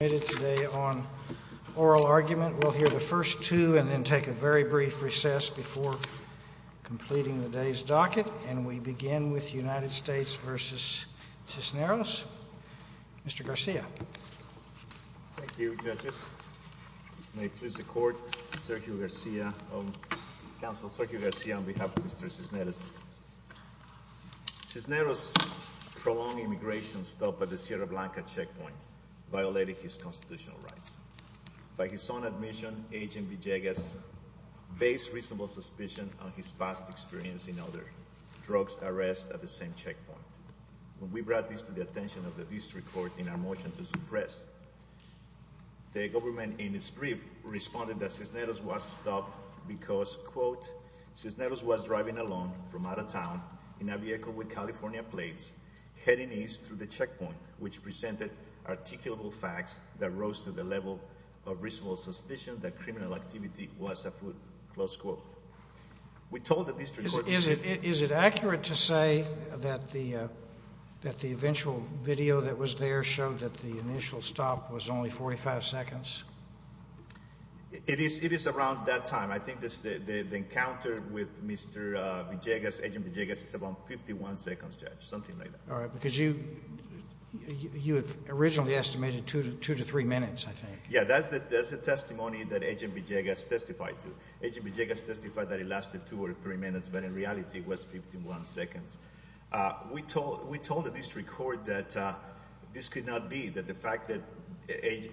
Thank you judges, may it please the court, Sergio Garcia on behalf of Mr. Cisneros. Cisneros' prolonged immigration stop at the Sierra Blanca checkpoint violated his constitutional rights. By his own admission, Agent Villegas based reasonable suspicion on his past experience in other drugs arrests at the same checkpoint. When we brought this to the attention of the district court in our motion to suppress, the government in its brief responded that Cisneros was stopped because, quote, Cisneros was driving alone from out of town in a vehicle with California plates heading east through the checkpoint, which presented articulable facts that rose to the level of reasonable suspicion that criminal activity was afoot, close quote. We told the district court this evening. Is it accurate to say that the eventual video that was there showed that the initial stop was only 45 seconds? It is around that time. I think the encounter with Mr. Villegas, Agent Villegas, is about 51 seconds, Judge, something like that. All right, because you originally estimated two to three minutes, I think. Yeah, that's the testimony that Agent Villegas testified to. Agent Villegas testified that it lasted two or three minutes, but in reality it was 51 seconds. We told the district court that this could not be, that the fact that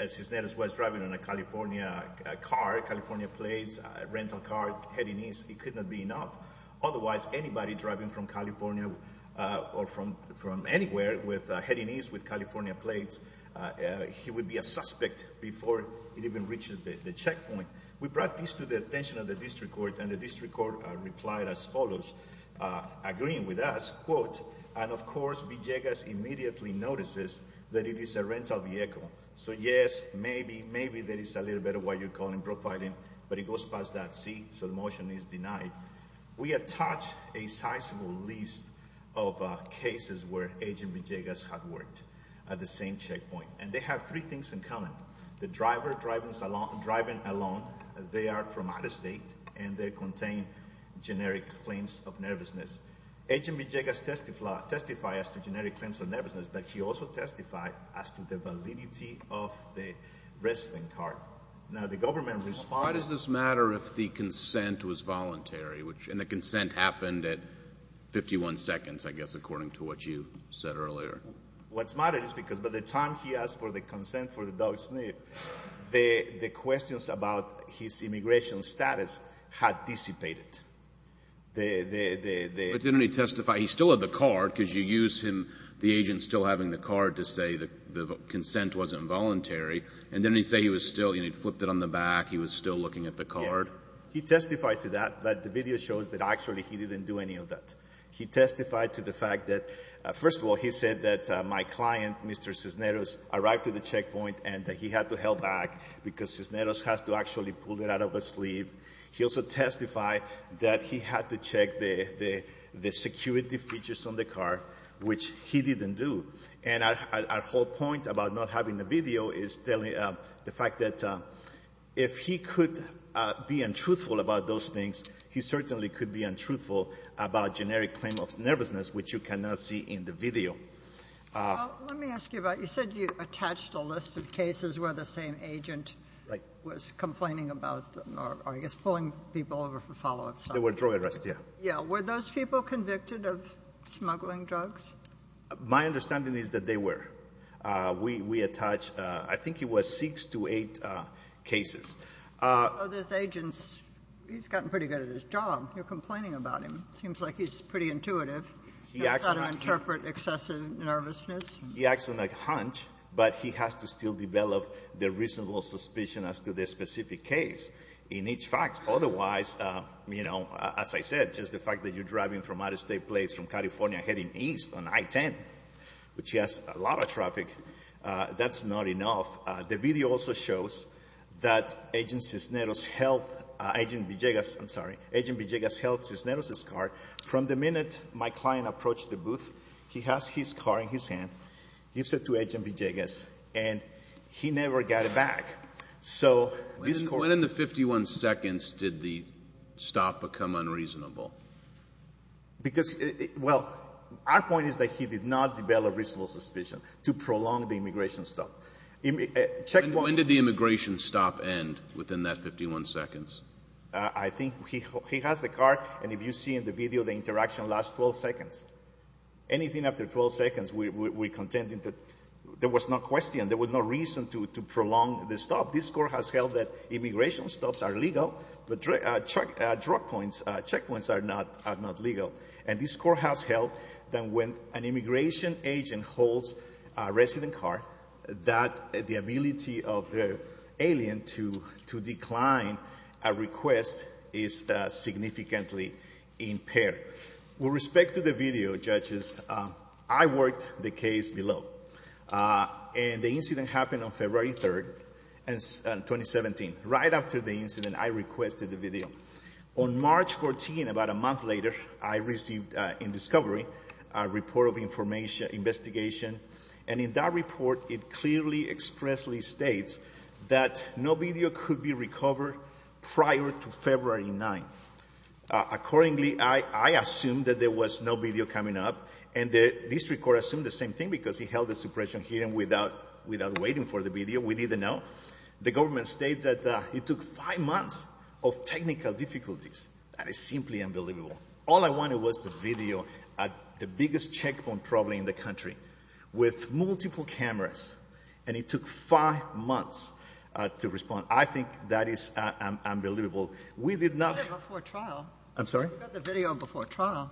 Cisneros was driving in a California car, California plates, rental car heading east, it could not be enough. Otherwise, anybody driving from California or from anywhere heading east with California plates, he would be a suspect before it even reaches the checkpoint. We brought this to the attention of the district court, and the district court replied as follows. Agreeing with us, quote, and of course, Villegas immediately notices that it is a rental vehicle. So yes, maybe, maybe there is a little bit of what you're calling profiling, but it goes past that C, so the motion is denied. We attach a sizable list of cases where Agent Villegas had worked at the same checkpoint, and they have three things in common. The driver driving alone, they are from out of state, and they contain generic claims of nervousness. Agent Villegas testified as to generic claims of nervousness, but he also testified as to the validity of the wrestling card. Now, the government responded- Why does this matter if the consent was voluntary, and the consent happened at 51 seconds, I guess, according to what you said earlier? What matters is because by the time he asked for the consent for the dog sniff, the questions about his immigration status had dissipated. But didn't he testify, he still had the card, because you use him, the agent still having the card to say the consent wasn't voluntary, and didn't he say he was still, he flipped it on the back, he was still looking at the card? He testified to that, but the video shows that actually he didn't do any of that. He testified to the fact that, first of all, he said that my client, Mr. Cisneros, arrived to the checkpoint, and that he had to help back because Cisneros has to actually pull it out of his sleeve. He also testified that he had to check the security features on the card, which he didn't do. And our whole point about not having the video is the fact that if he could be untruthful about those things, he certainly could be untruthful about generic claim of nervousness, which you cannot see in the video. Let me ask you about, you said you attached a list of cases where the same agent was complaining about, or I guess pulling people over for follow-up. They were drug arrests, yes. Yes. Were those people convicted of smuggling drugs? My understanding is that they were. We attached, I think it was six to eight cases. So this agent, he's gotten pretty good at his job. You're complaining about him. It seems like he's pretty intuitive. He acts on a hunch. He's got to interpret excessive nervousness. He acts on a hunch, but he has to still develop the reasonable suspicion as to the specific case in each fact. Otherwise, you know, as I said, just the fact that you're driving from out-of-state place from California heading east on I-10, which has a lot of traffic, that's not enough. The video also shows that Agent Cisneros held Agent Villegas, I'm sorry, Agent Villegas held Cisneros' car. From the minute my client approached the booth, he has his car in his hand, gives it to Agent Villegas, and he never got it back. So this Court ---- When in the 51 seconds did the stop become unreasonable? Because, well, our point is that he did not develop reasonable suspicion to prolong the immigration stop. When did the immigration stop end within that 51 seconds? I think he has the car, and if you see in the video, the interaction lasts 12 seconds. Anything after 12 seconds, we contend that there was no question, there was no reason to prolong the stop. This Court has held that immigration stops are legal, but checkpoints are not legal. And this Court has held that when an immigration agent holds a resident car, that the ability of the alien to decline a request is significantly impaired. With respect to the video, judges, I worked the case below, and the incident happened on February 3rd, 2017. Right after the incident, I requested the video. On March 14th, about a month later, I received in discovery a report of information, investigation, and in that report, it clearly expressly states that no video could be recovered prior to February 9th. Accordingly, I assumed that there was no video coming up, and the district court assumed the same thing because he held the suppression hearing without waiting for the video. We didn't know. The government states that it took five months of technical difficulties. That is simply unbelievable. All I wanted was the video at the biggest checkpoint probably in the country with multiple cameras, and it took five months to respond. I think that is unbelievable. We did not— You got it before trial. I'm sorry? You got the video before trial.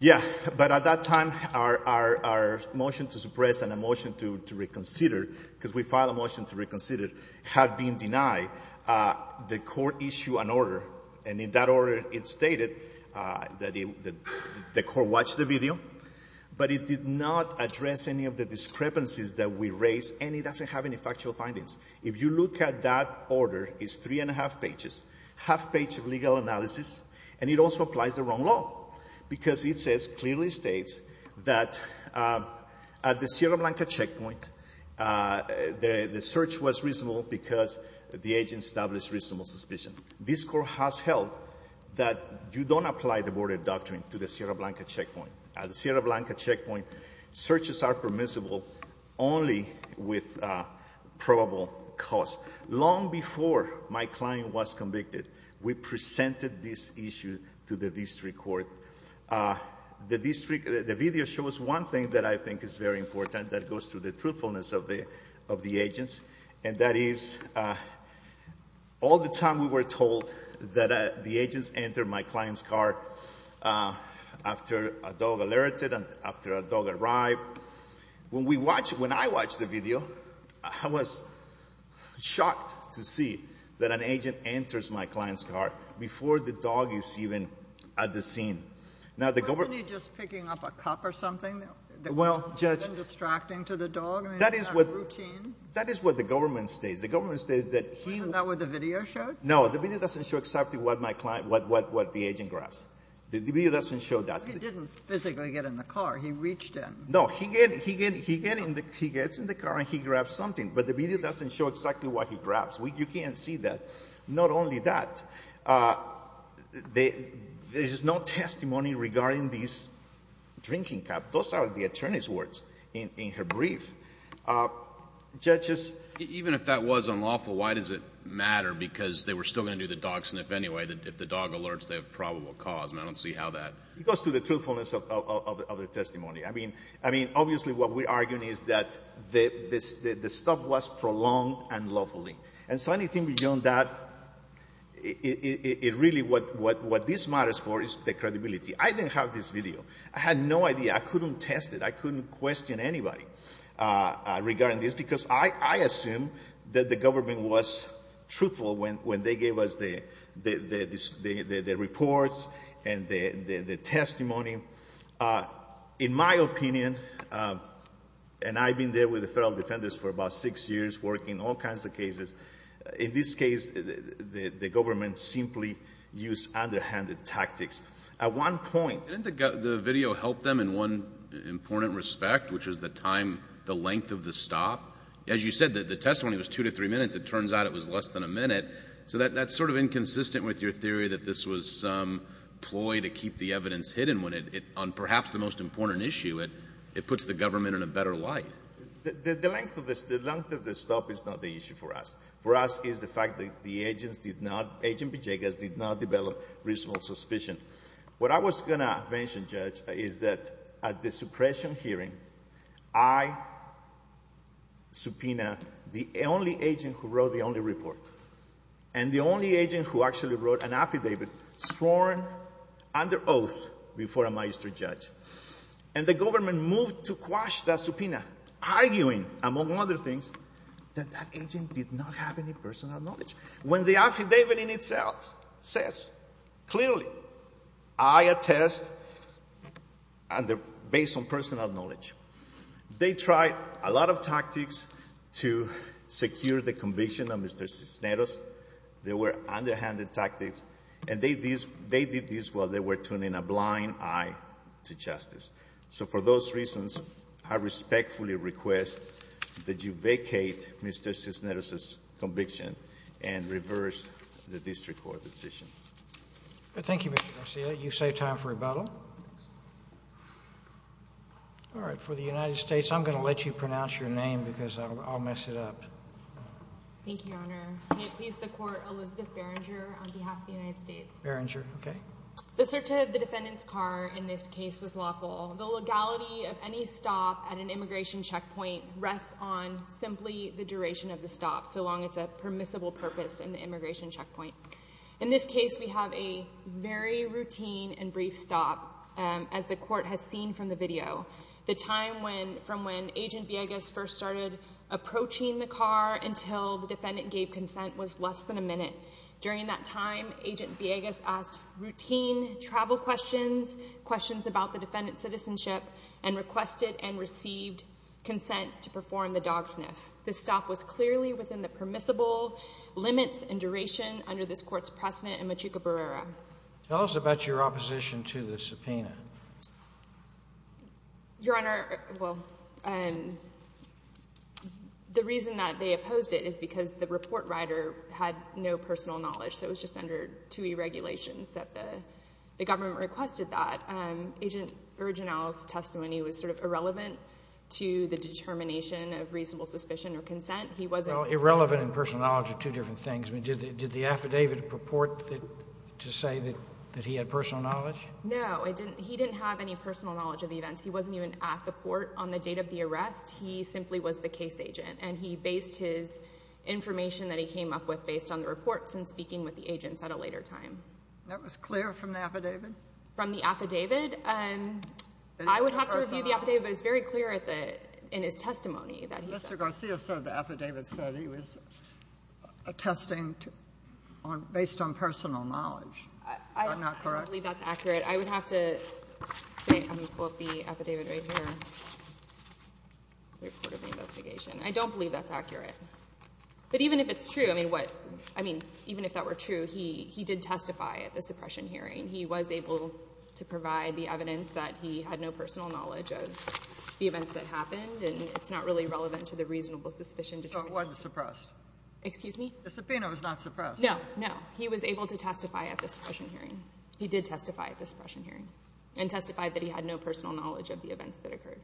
Yeah, but at that time, our motion to suppress and a motion to reconsider, because we filed a motion to reconsider, had been denied. The court issued an order, and in that order, it stated that the court watched the video, but it did not address any of the discrepancies that we raised, and it doesn't have any factual findings. If you look at that order, it's three and a half pages, half page of legal analysis, and it also applies the wrong law because it says, clearly states, that at the Sierra Blanca checkpoint, the search was reasonable because the agent established reasonable suspicion. This Court has held that you don't apply the border doctrine to the Sierra Blanca checkpoint. At the Sierra Blanca checkpoint, searches are permissible only with probable cause. Long before my client was convicted, we presented this issue to the district court. The district—the video shows one thing that I think is very important that goes to the agents, and that is, all the time we were told that the agents enter my client's car after a dog alerted, after a dog arrived. When we watched—when I watched the video, I was shocked to see that an agent enters my client's car before the dog is even at the scene. Now, the government— Wasn't he just picking up a cup or something? Well, Judge— That is what the government states. The government states that he— Wasn't that what the video showed? No. The video doesn't show exactly what my client—what the agent grabs. The video doesn't show that. He didn't physically get in the car. He reached in. No. He gets in the car and he grabs something, but the video doesn't show exactly what he grabs. You can't see that. Not only that, there is no testimony regarding this drinking cup. Those are the attorney's words in her brief. Judges? Even if that was unlawful, why does it matter? Because they were still going to do the dog sniff anyway. If the dog alerts, they have probable cause, and I don't see how that— It goes to the truthfulness of the testimony. I mean, obviously what we're arguing is that the stuff was prolonged unlawfully. And so anything beyond that, it really—what this matters for is the credibility. I didn't have this video. I had no idea. I couldn't test it. I couldn't question anybody. Regarding this, because I assume that the government was truthful when they gave us the reports and the testimony. In my opinion, and I've been there with the federal defenders for about six years, working all kinds of cases, in this case, the government simply used underhanded tactics. At one point— in one important respect, which was the time, the length of the stop. As you said, the testimony was two to three minutes. It turns out it was less than a minute. So that's sort of inconsistent with your theory that this was some ploy to keep the evidence hidden on perhaps the most important issue. It puts the government in a better light. The length of the stop is not the issue for us. For us, it's the fact that the agents did not—Agent Villegas did not develop reasonable suspicion. What I was going to mention, Judge, is that at the suppression hearing, I subpoenaed the only agent who wrote the only report. And the only agent who actually wrote an affidavit sworn under oath before a magistrate judge. And the government moved to quash that subpoena, arguing, among other things, that that agent did not have any personal knowledge. When the affidavit in itself says clearly, I attest, based on personal knowledge, they tried a lot of tactics to secure the conviction of Mr. Cisneros. They were underhanded tactics. And they did this while they were turning a blind eye to justice. So for those reasons, I respectfully request that you vacate Mr. Cisneros's case and reverse the district court decisions. Roberts. Thank you, Mr. Garcia. You've saved time for rebuttal. All right. For the United States, I'm going to let you pronounce your name, because I'll mess it up. Thank you, Your Honor. May it please the Court, Elizabeth Berenger on behalf of the United States. Berenger. Okay. The search of the defendant's car in this case was lawful. The legality of any stop at an immigration checkpoint rests on simply the duration of the stop, so long as it's a permissible purpose in the immigration checkpoint. In this case, we have a very routine and brief stop, as the Court has seen from the video. The time from when Agent Villegas first started approaching the car until the defendant gave consent was less than a minute. During that time, Agent Villegas asked routine travel questions, questions about the defendant's citizenship, and requested and received consent to perform the dog sniff. The stop was clearly within the permissible limits and duration under this Court's precedent in Machuca-Berrera. Tell us about your opposition to the subpoena. Your Honor, well, the reason that they opposed it is because the report writer had no personal knowledge, so it was just under two e-regulations that the government requested that. Agent Bergenau's testimony was sort of irrelevant to the determination of reasonable suspicion or consent. He wasn't— Well, irrelevant and personal knowledge are two different things. Did the affidavit purport to say that he had personal knowledge? No, he didn't have any personal knowledge of the events. He wasn't even at the port on the date of the arrest. He simply was the case agent, and he based his information that he came up with based on the reports and speaking with the agents at a later time. That was clear from the affidavit? From the affidavit. I would have to review the affidavit, but it's very clear at the — in his testimony that he said that. Mr. Garcia said the affidavit said he was attesting based on personal knowledge. Is that not correct? I don't believe that's accurate. I would have to say — let me pull up the affidavit right here, the report of the investigation. I don't believe that's accurate. But even if it's true, I mean, what — I mean, even if that were true, he did testify at the suppression hearing. He was able to provide the evidence that he had no personal knowledge of the events that happened, and it's not really relevant to the reasonable suspicion to try to — So it wasn't suppressed? Excuse me? The subpoena was not suppressed? No. No. He was able to testify at the suppression hearing. He did testify at the suppression hearing and testified that he had no personal knowledge of the events that occurred.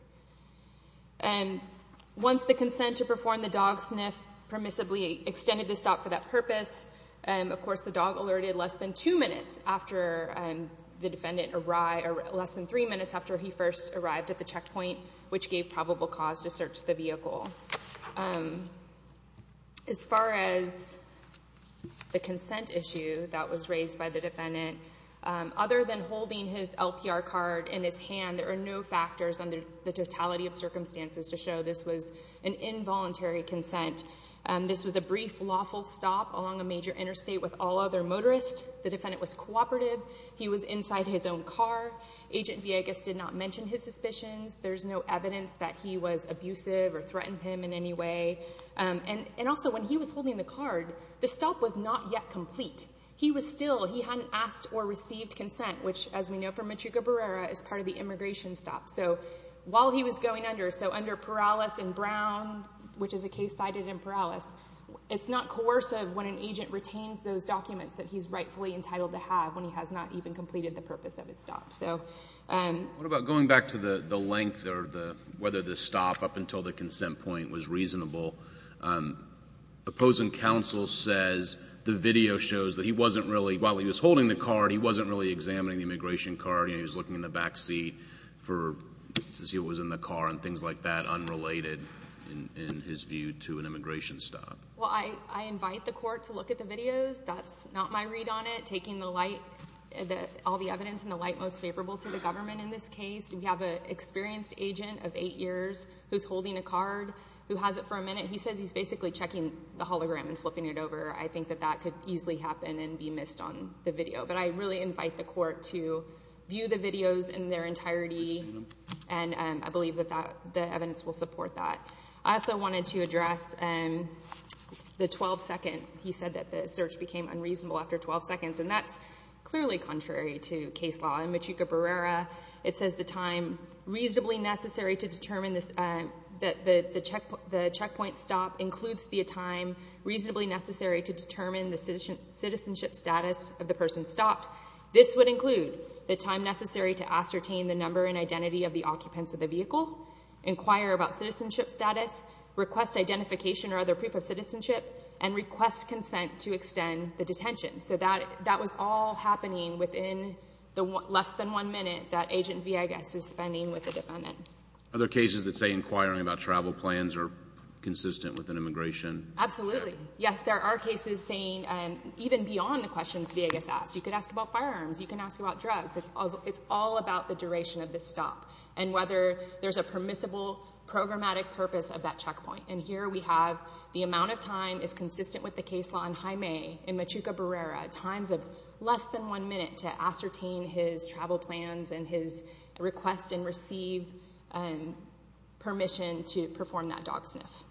Once the consent to perform the dog sniff permissibly extended the stop for that purpose, of course, the dog alerted less than two minutes after the defendant — less than three minutes after he first arrived at the checkpoint, which gave probable cause to search the vehicle. As far as the consent issue that was raised by the defendant, other than holding his LPR card in his hand, there are no factors under the totality of circumstances to show this was an involuntary consent. This was a brief, lawful stop along a major interstate with all other motorists. The defendant was cooperative. He was inside his own car. Agent Villegas did not mention his suspicions. There's no evidence that he was abusive or threatened him in any way. And also, when he was holding the card, the stop was not yet complete. He was still — he hadn't asked or received consent, which, as we know from Michiko Barrera, is part of the immigration stop. So while he was going under — so under Perales and Brown, which is a case cited in Perales, it's not coercive when an agent retains those documents that he's rightfully entitled to have when he has not even completed the purpose of his stop. So — What about going back to the length or the — whether the stop up until the consent point was reasonable? Opposing counsel says the video shows that he wasn't really — while he was holding the card, he wasn't really examining the immigration card. I mean, he was looking in the back seat for — to see what was in the car and things like that unrelated, in his view, to an immigration stop. Well, I invite the court to look at the videos. That's not my read on it, taking the light — all the evidence in the light most favorable to the government in this case. We have an experienced agent of eight years who's holding a card who has it for a minute. He says he's basically checking the hologram and flipping it over. I think that that could easily happen and be missed on the video. But I really invite the court to view the videos in their entirety, and I believe that that — the evidence will support that. I also wanted to address the 12-second. He said that the search became unreasonable after 12 seconds, and that's clearly contrary to case law. In Machuca-Berrera, it says the time reasonably necessary to determine the checkpoint stop includes the time reasonably necessary to determine the citizenship status of the person who stopped. This would include the time necessary to ascertain the number and identity of the occupants of the vehicle, inquire about citizenship status, request identification or other proof of citizenship, and request consent to extend the detention. So that was all happening within the less than one minute that Agent Villegas is spending with the defendant. Other cases that say inquiring about travel plans are consistent with an immigration — Absolutely. Yes, there are cases saying — even beyond the questions Villegas asked. You could ask about firearms. You can ask about drugs. It's all about the duration of the stop and whether there's a permissible programmatic purpose of that checkpoint. And here we have the amount of time is consistent with the case law in Jaime in Machuca-Berrera, times of less than one minute to ascertain his travel plans and his request and receive permission to perform that dog sniff.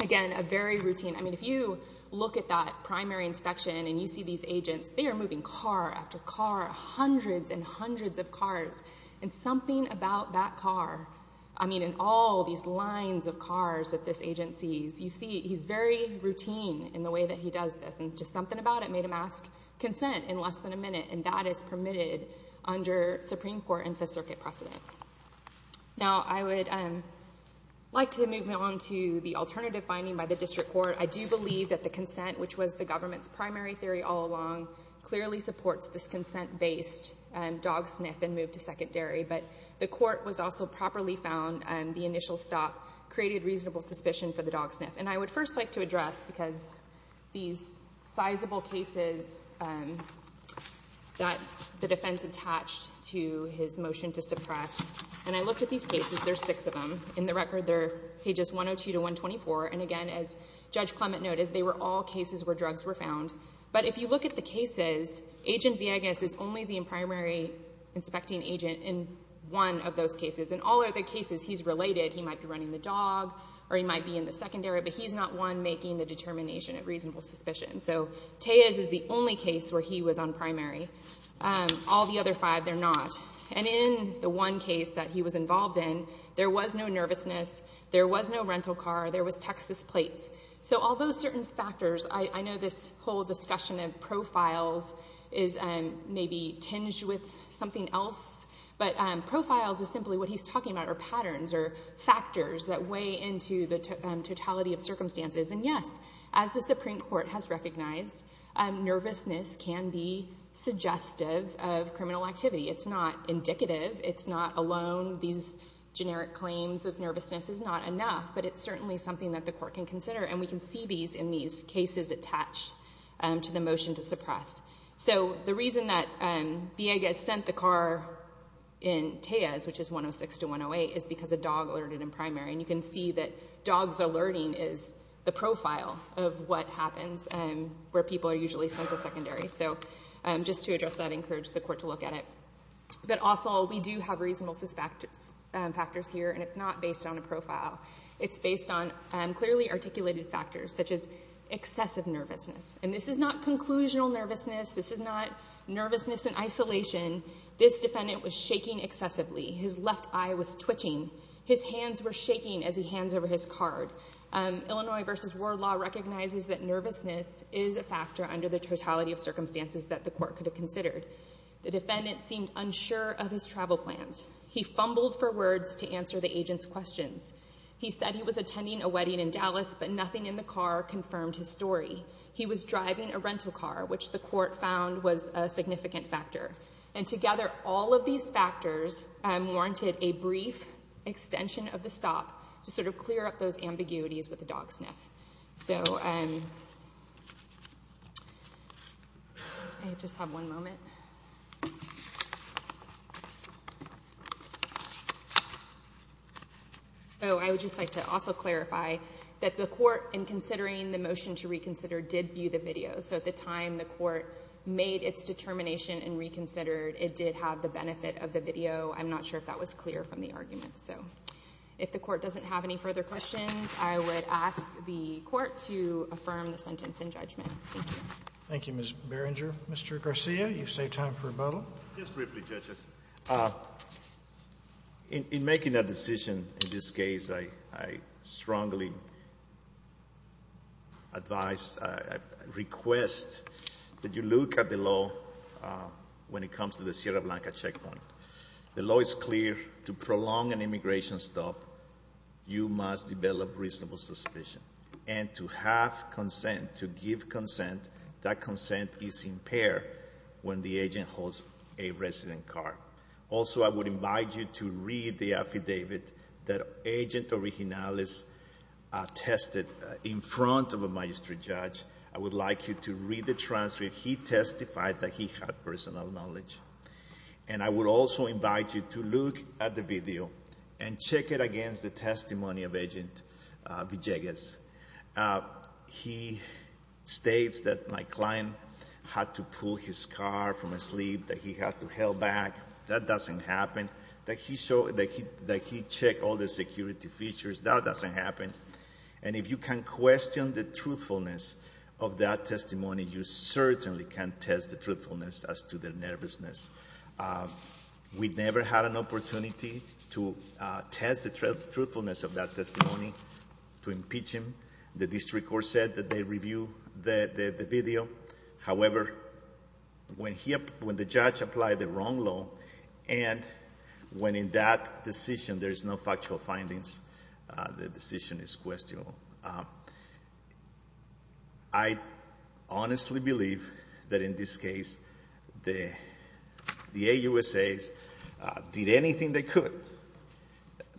Again, a very routine — I mean, if you look at that primary inspection and you see these agents, they are moving car after car, hundreds and hundreds of cars. And something about that car — I mean, in all these lines of cars that this agent sees, you see he's very routine in the way that he does this. And just something about it made him ask consent in less than a minute. And that is permitted under Supreme Court and Fifth Circuit precedent. Now, I would like to move on to the alternative finding by the district court. I do believe that the consent, which was the government's primary theory all along, clearly supports this consent-based dog sniff and move to secondary. But the court was also properly found. The initial stop created reasonable suspicion for the dog sniff. And I would first like to address, because these sizable cases that the defense attached to his motion to suppress — and I looked at these cases. There are six of them. In the record, they're pages 102 to 124. And again, as Judge Clement noted, they were all cases where drugs were found. But if you look at the cases, Agent Villegas is only the primary inspecting agent in one of those cases. In all other cases, he's related. He might be running the dog or he might be in the secondary, but he's not one making the determination of reasonable suspicion. So Tejas is the only case where he was on primary. All the other five, they're not. And in the one case that he was involved in, there was no nervousness. There was no rental car. There was Texas plates. So all those certain factors, I know this whole discussion of profiles is maybe tinged with something else, but profiles is simply what he's talking about are patterns or factors that weigh into the totality of circumstances. And, yes, as the Supreme Court has recognized, nervousness can be suggestive of criminal activity. It's not indicative. It's not alone. These generic claims of nervousness is not enough, but it's certainly something that the court can consider. And we can see these in these cases attached to the motion to suppress. So the reason that Villegas sent the car in Tejas, which is 106 to 108, is because a dog alerted in primary. And you can see that dogs alerting is the profile of what happens where people are usually sent to secondary. So just to address that, I encourage the court to look at it. But also we do have reasonable factors here, and it's not based on a profile. It's based on clearly articulated factors, such as excessive nervousness. And this is not conclusional nervousness. This is not nervousness in isolation. This defendant was shaking excessively. His left eye was twitching. His hands were shaking as he hands over his card. Illinois v. Ward Law recognizes that nervousness is a factor under the totality of circumstances that the court could have considered. The defendant seemed unsure of his travel plans. He fumbled for words to answer the agent's questions. He said he was attending a wedding in Dallas, but nothing in the car confirmed his story. He was driving a rental car, which the court found was a significant factor. And together, all of these factors warranted a brief extension of the stop to sort of clear up those ambiguities with a dog sniff. So I just have one moment. Oh, I would just like to also clarify that the court, in considering the motion to reconsider, did view the video. So at the time the court made its determination and reconsidered, it did have the benefit of the video. I'm not sure if that was clear from the argument. So if the court doesn't have any further questions, I would ask the court to affirm the sentence in judgment. Thank you. Thank you, Ms. Berenger. Mr. Garcia, you've saved time for rebuttal. Just briefly, judges. In making that decision in this case, I strongly advise, request, that you look at the law when it comes to the Sierra Blanca checkpoint. The law is clear. To prolong an immigration stop, you must develop reasonable suspicion. And to have consent, to give consent, that consent is impaired when the agent holds a resident card. Also, I would invite you to read the affidavit that Agent Original tested in front of a magistrate judge. I would like you to read the transcript. He testified that he had personal knowledge. And I would also invite you to look at the video and check it against the testimony of Agent Villegas. He states that my client had to pull his car from asleep, that he had to held back. That doesn't happen. That he checked all the security features. That doesn't happen. And if you can question the truthfulness of that testimony, you certainly can test the truthfulness as to the nervousness. We never had an opportunity to test the truthfulness of that testimony, to impeach him. The district court said that they review the video. However, when the judge applied the wrong law, and when in that decision there is no factual findings, the decision is questionable. I honestly believe that in this case the AUSAs did anything they could,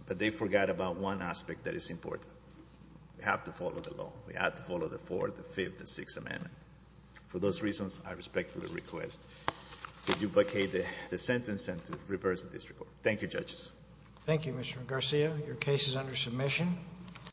but they forgot about one aspect that is important. We have to follow the law. We have to follow the Fourth, the Fifth, and Sixth Amendment. For those reasons, I respectfully request to duplicate the sentence and to reverse the district court. Thank you, judges. Thank you, Mr. Garcia. Your case is under submission.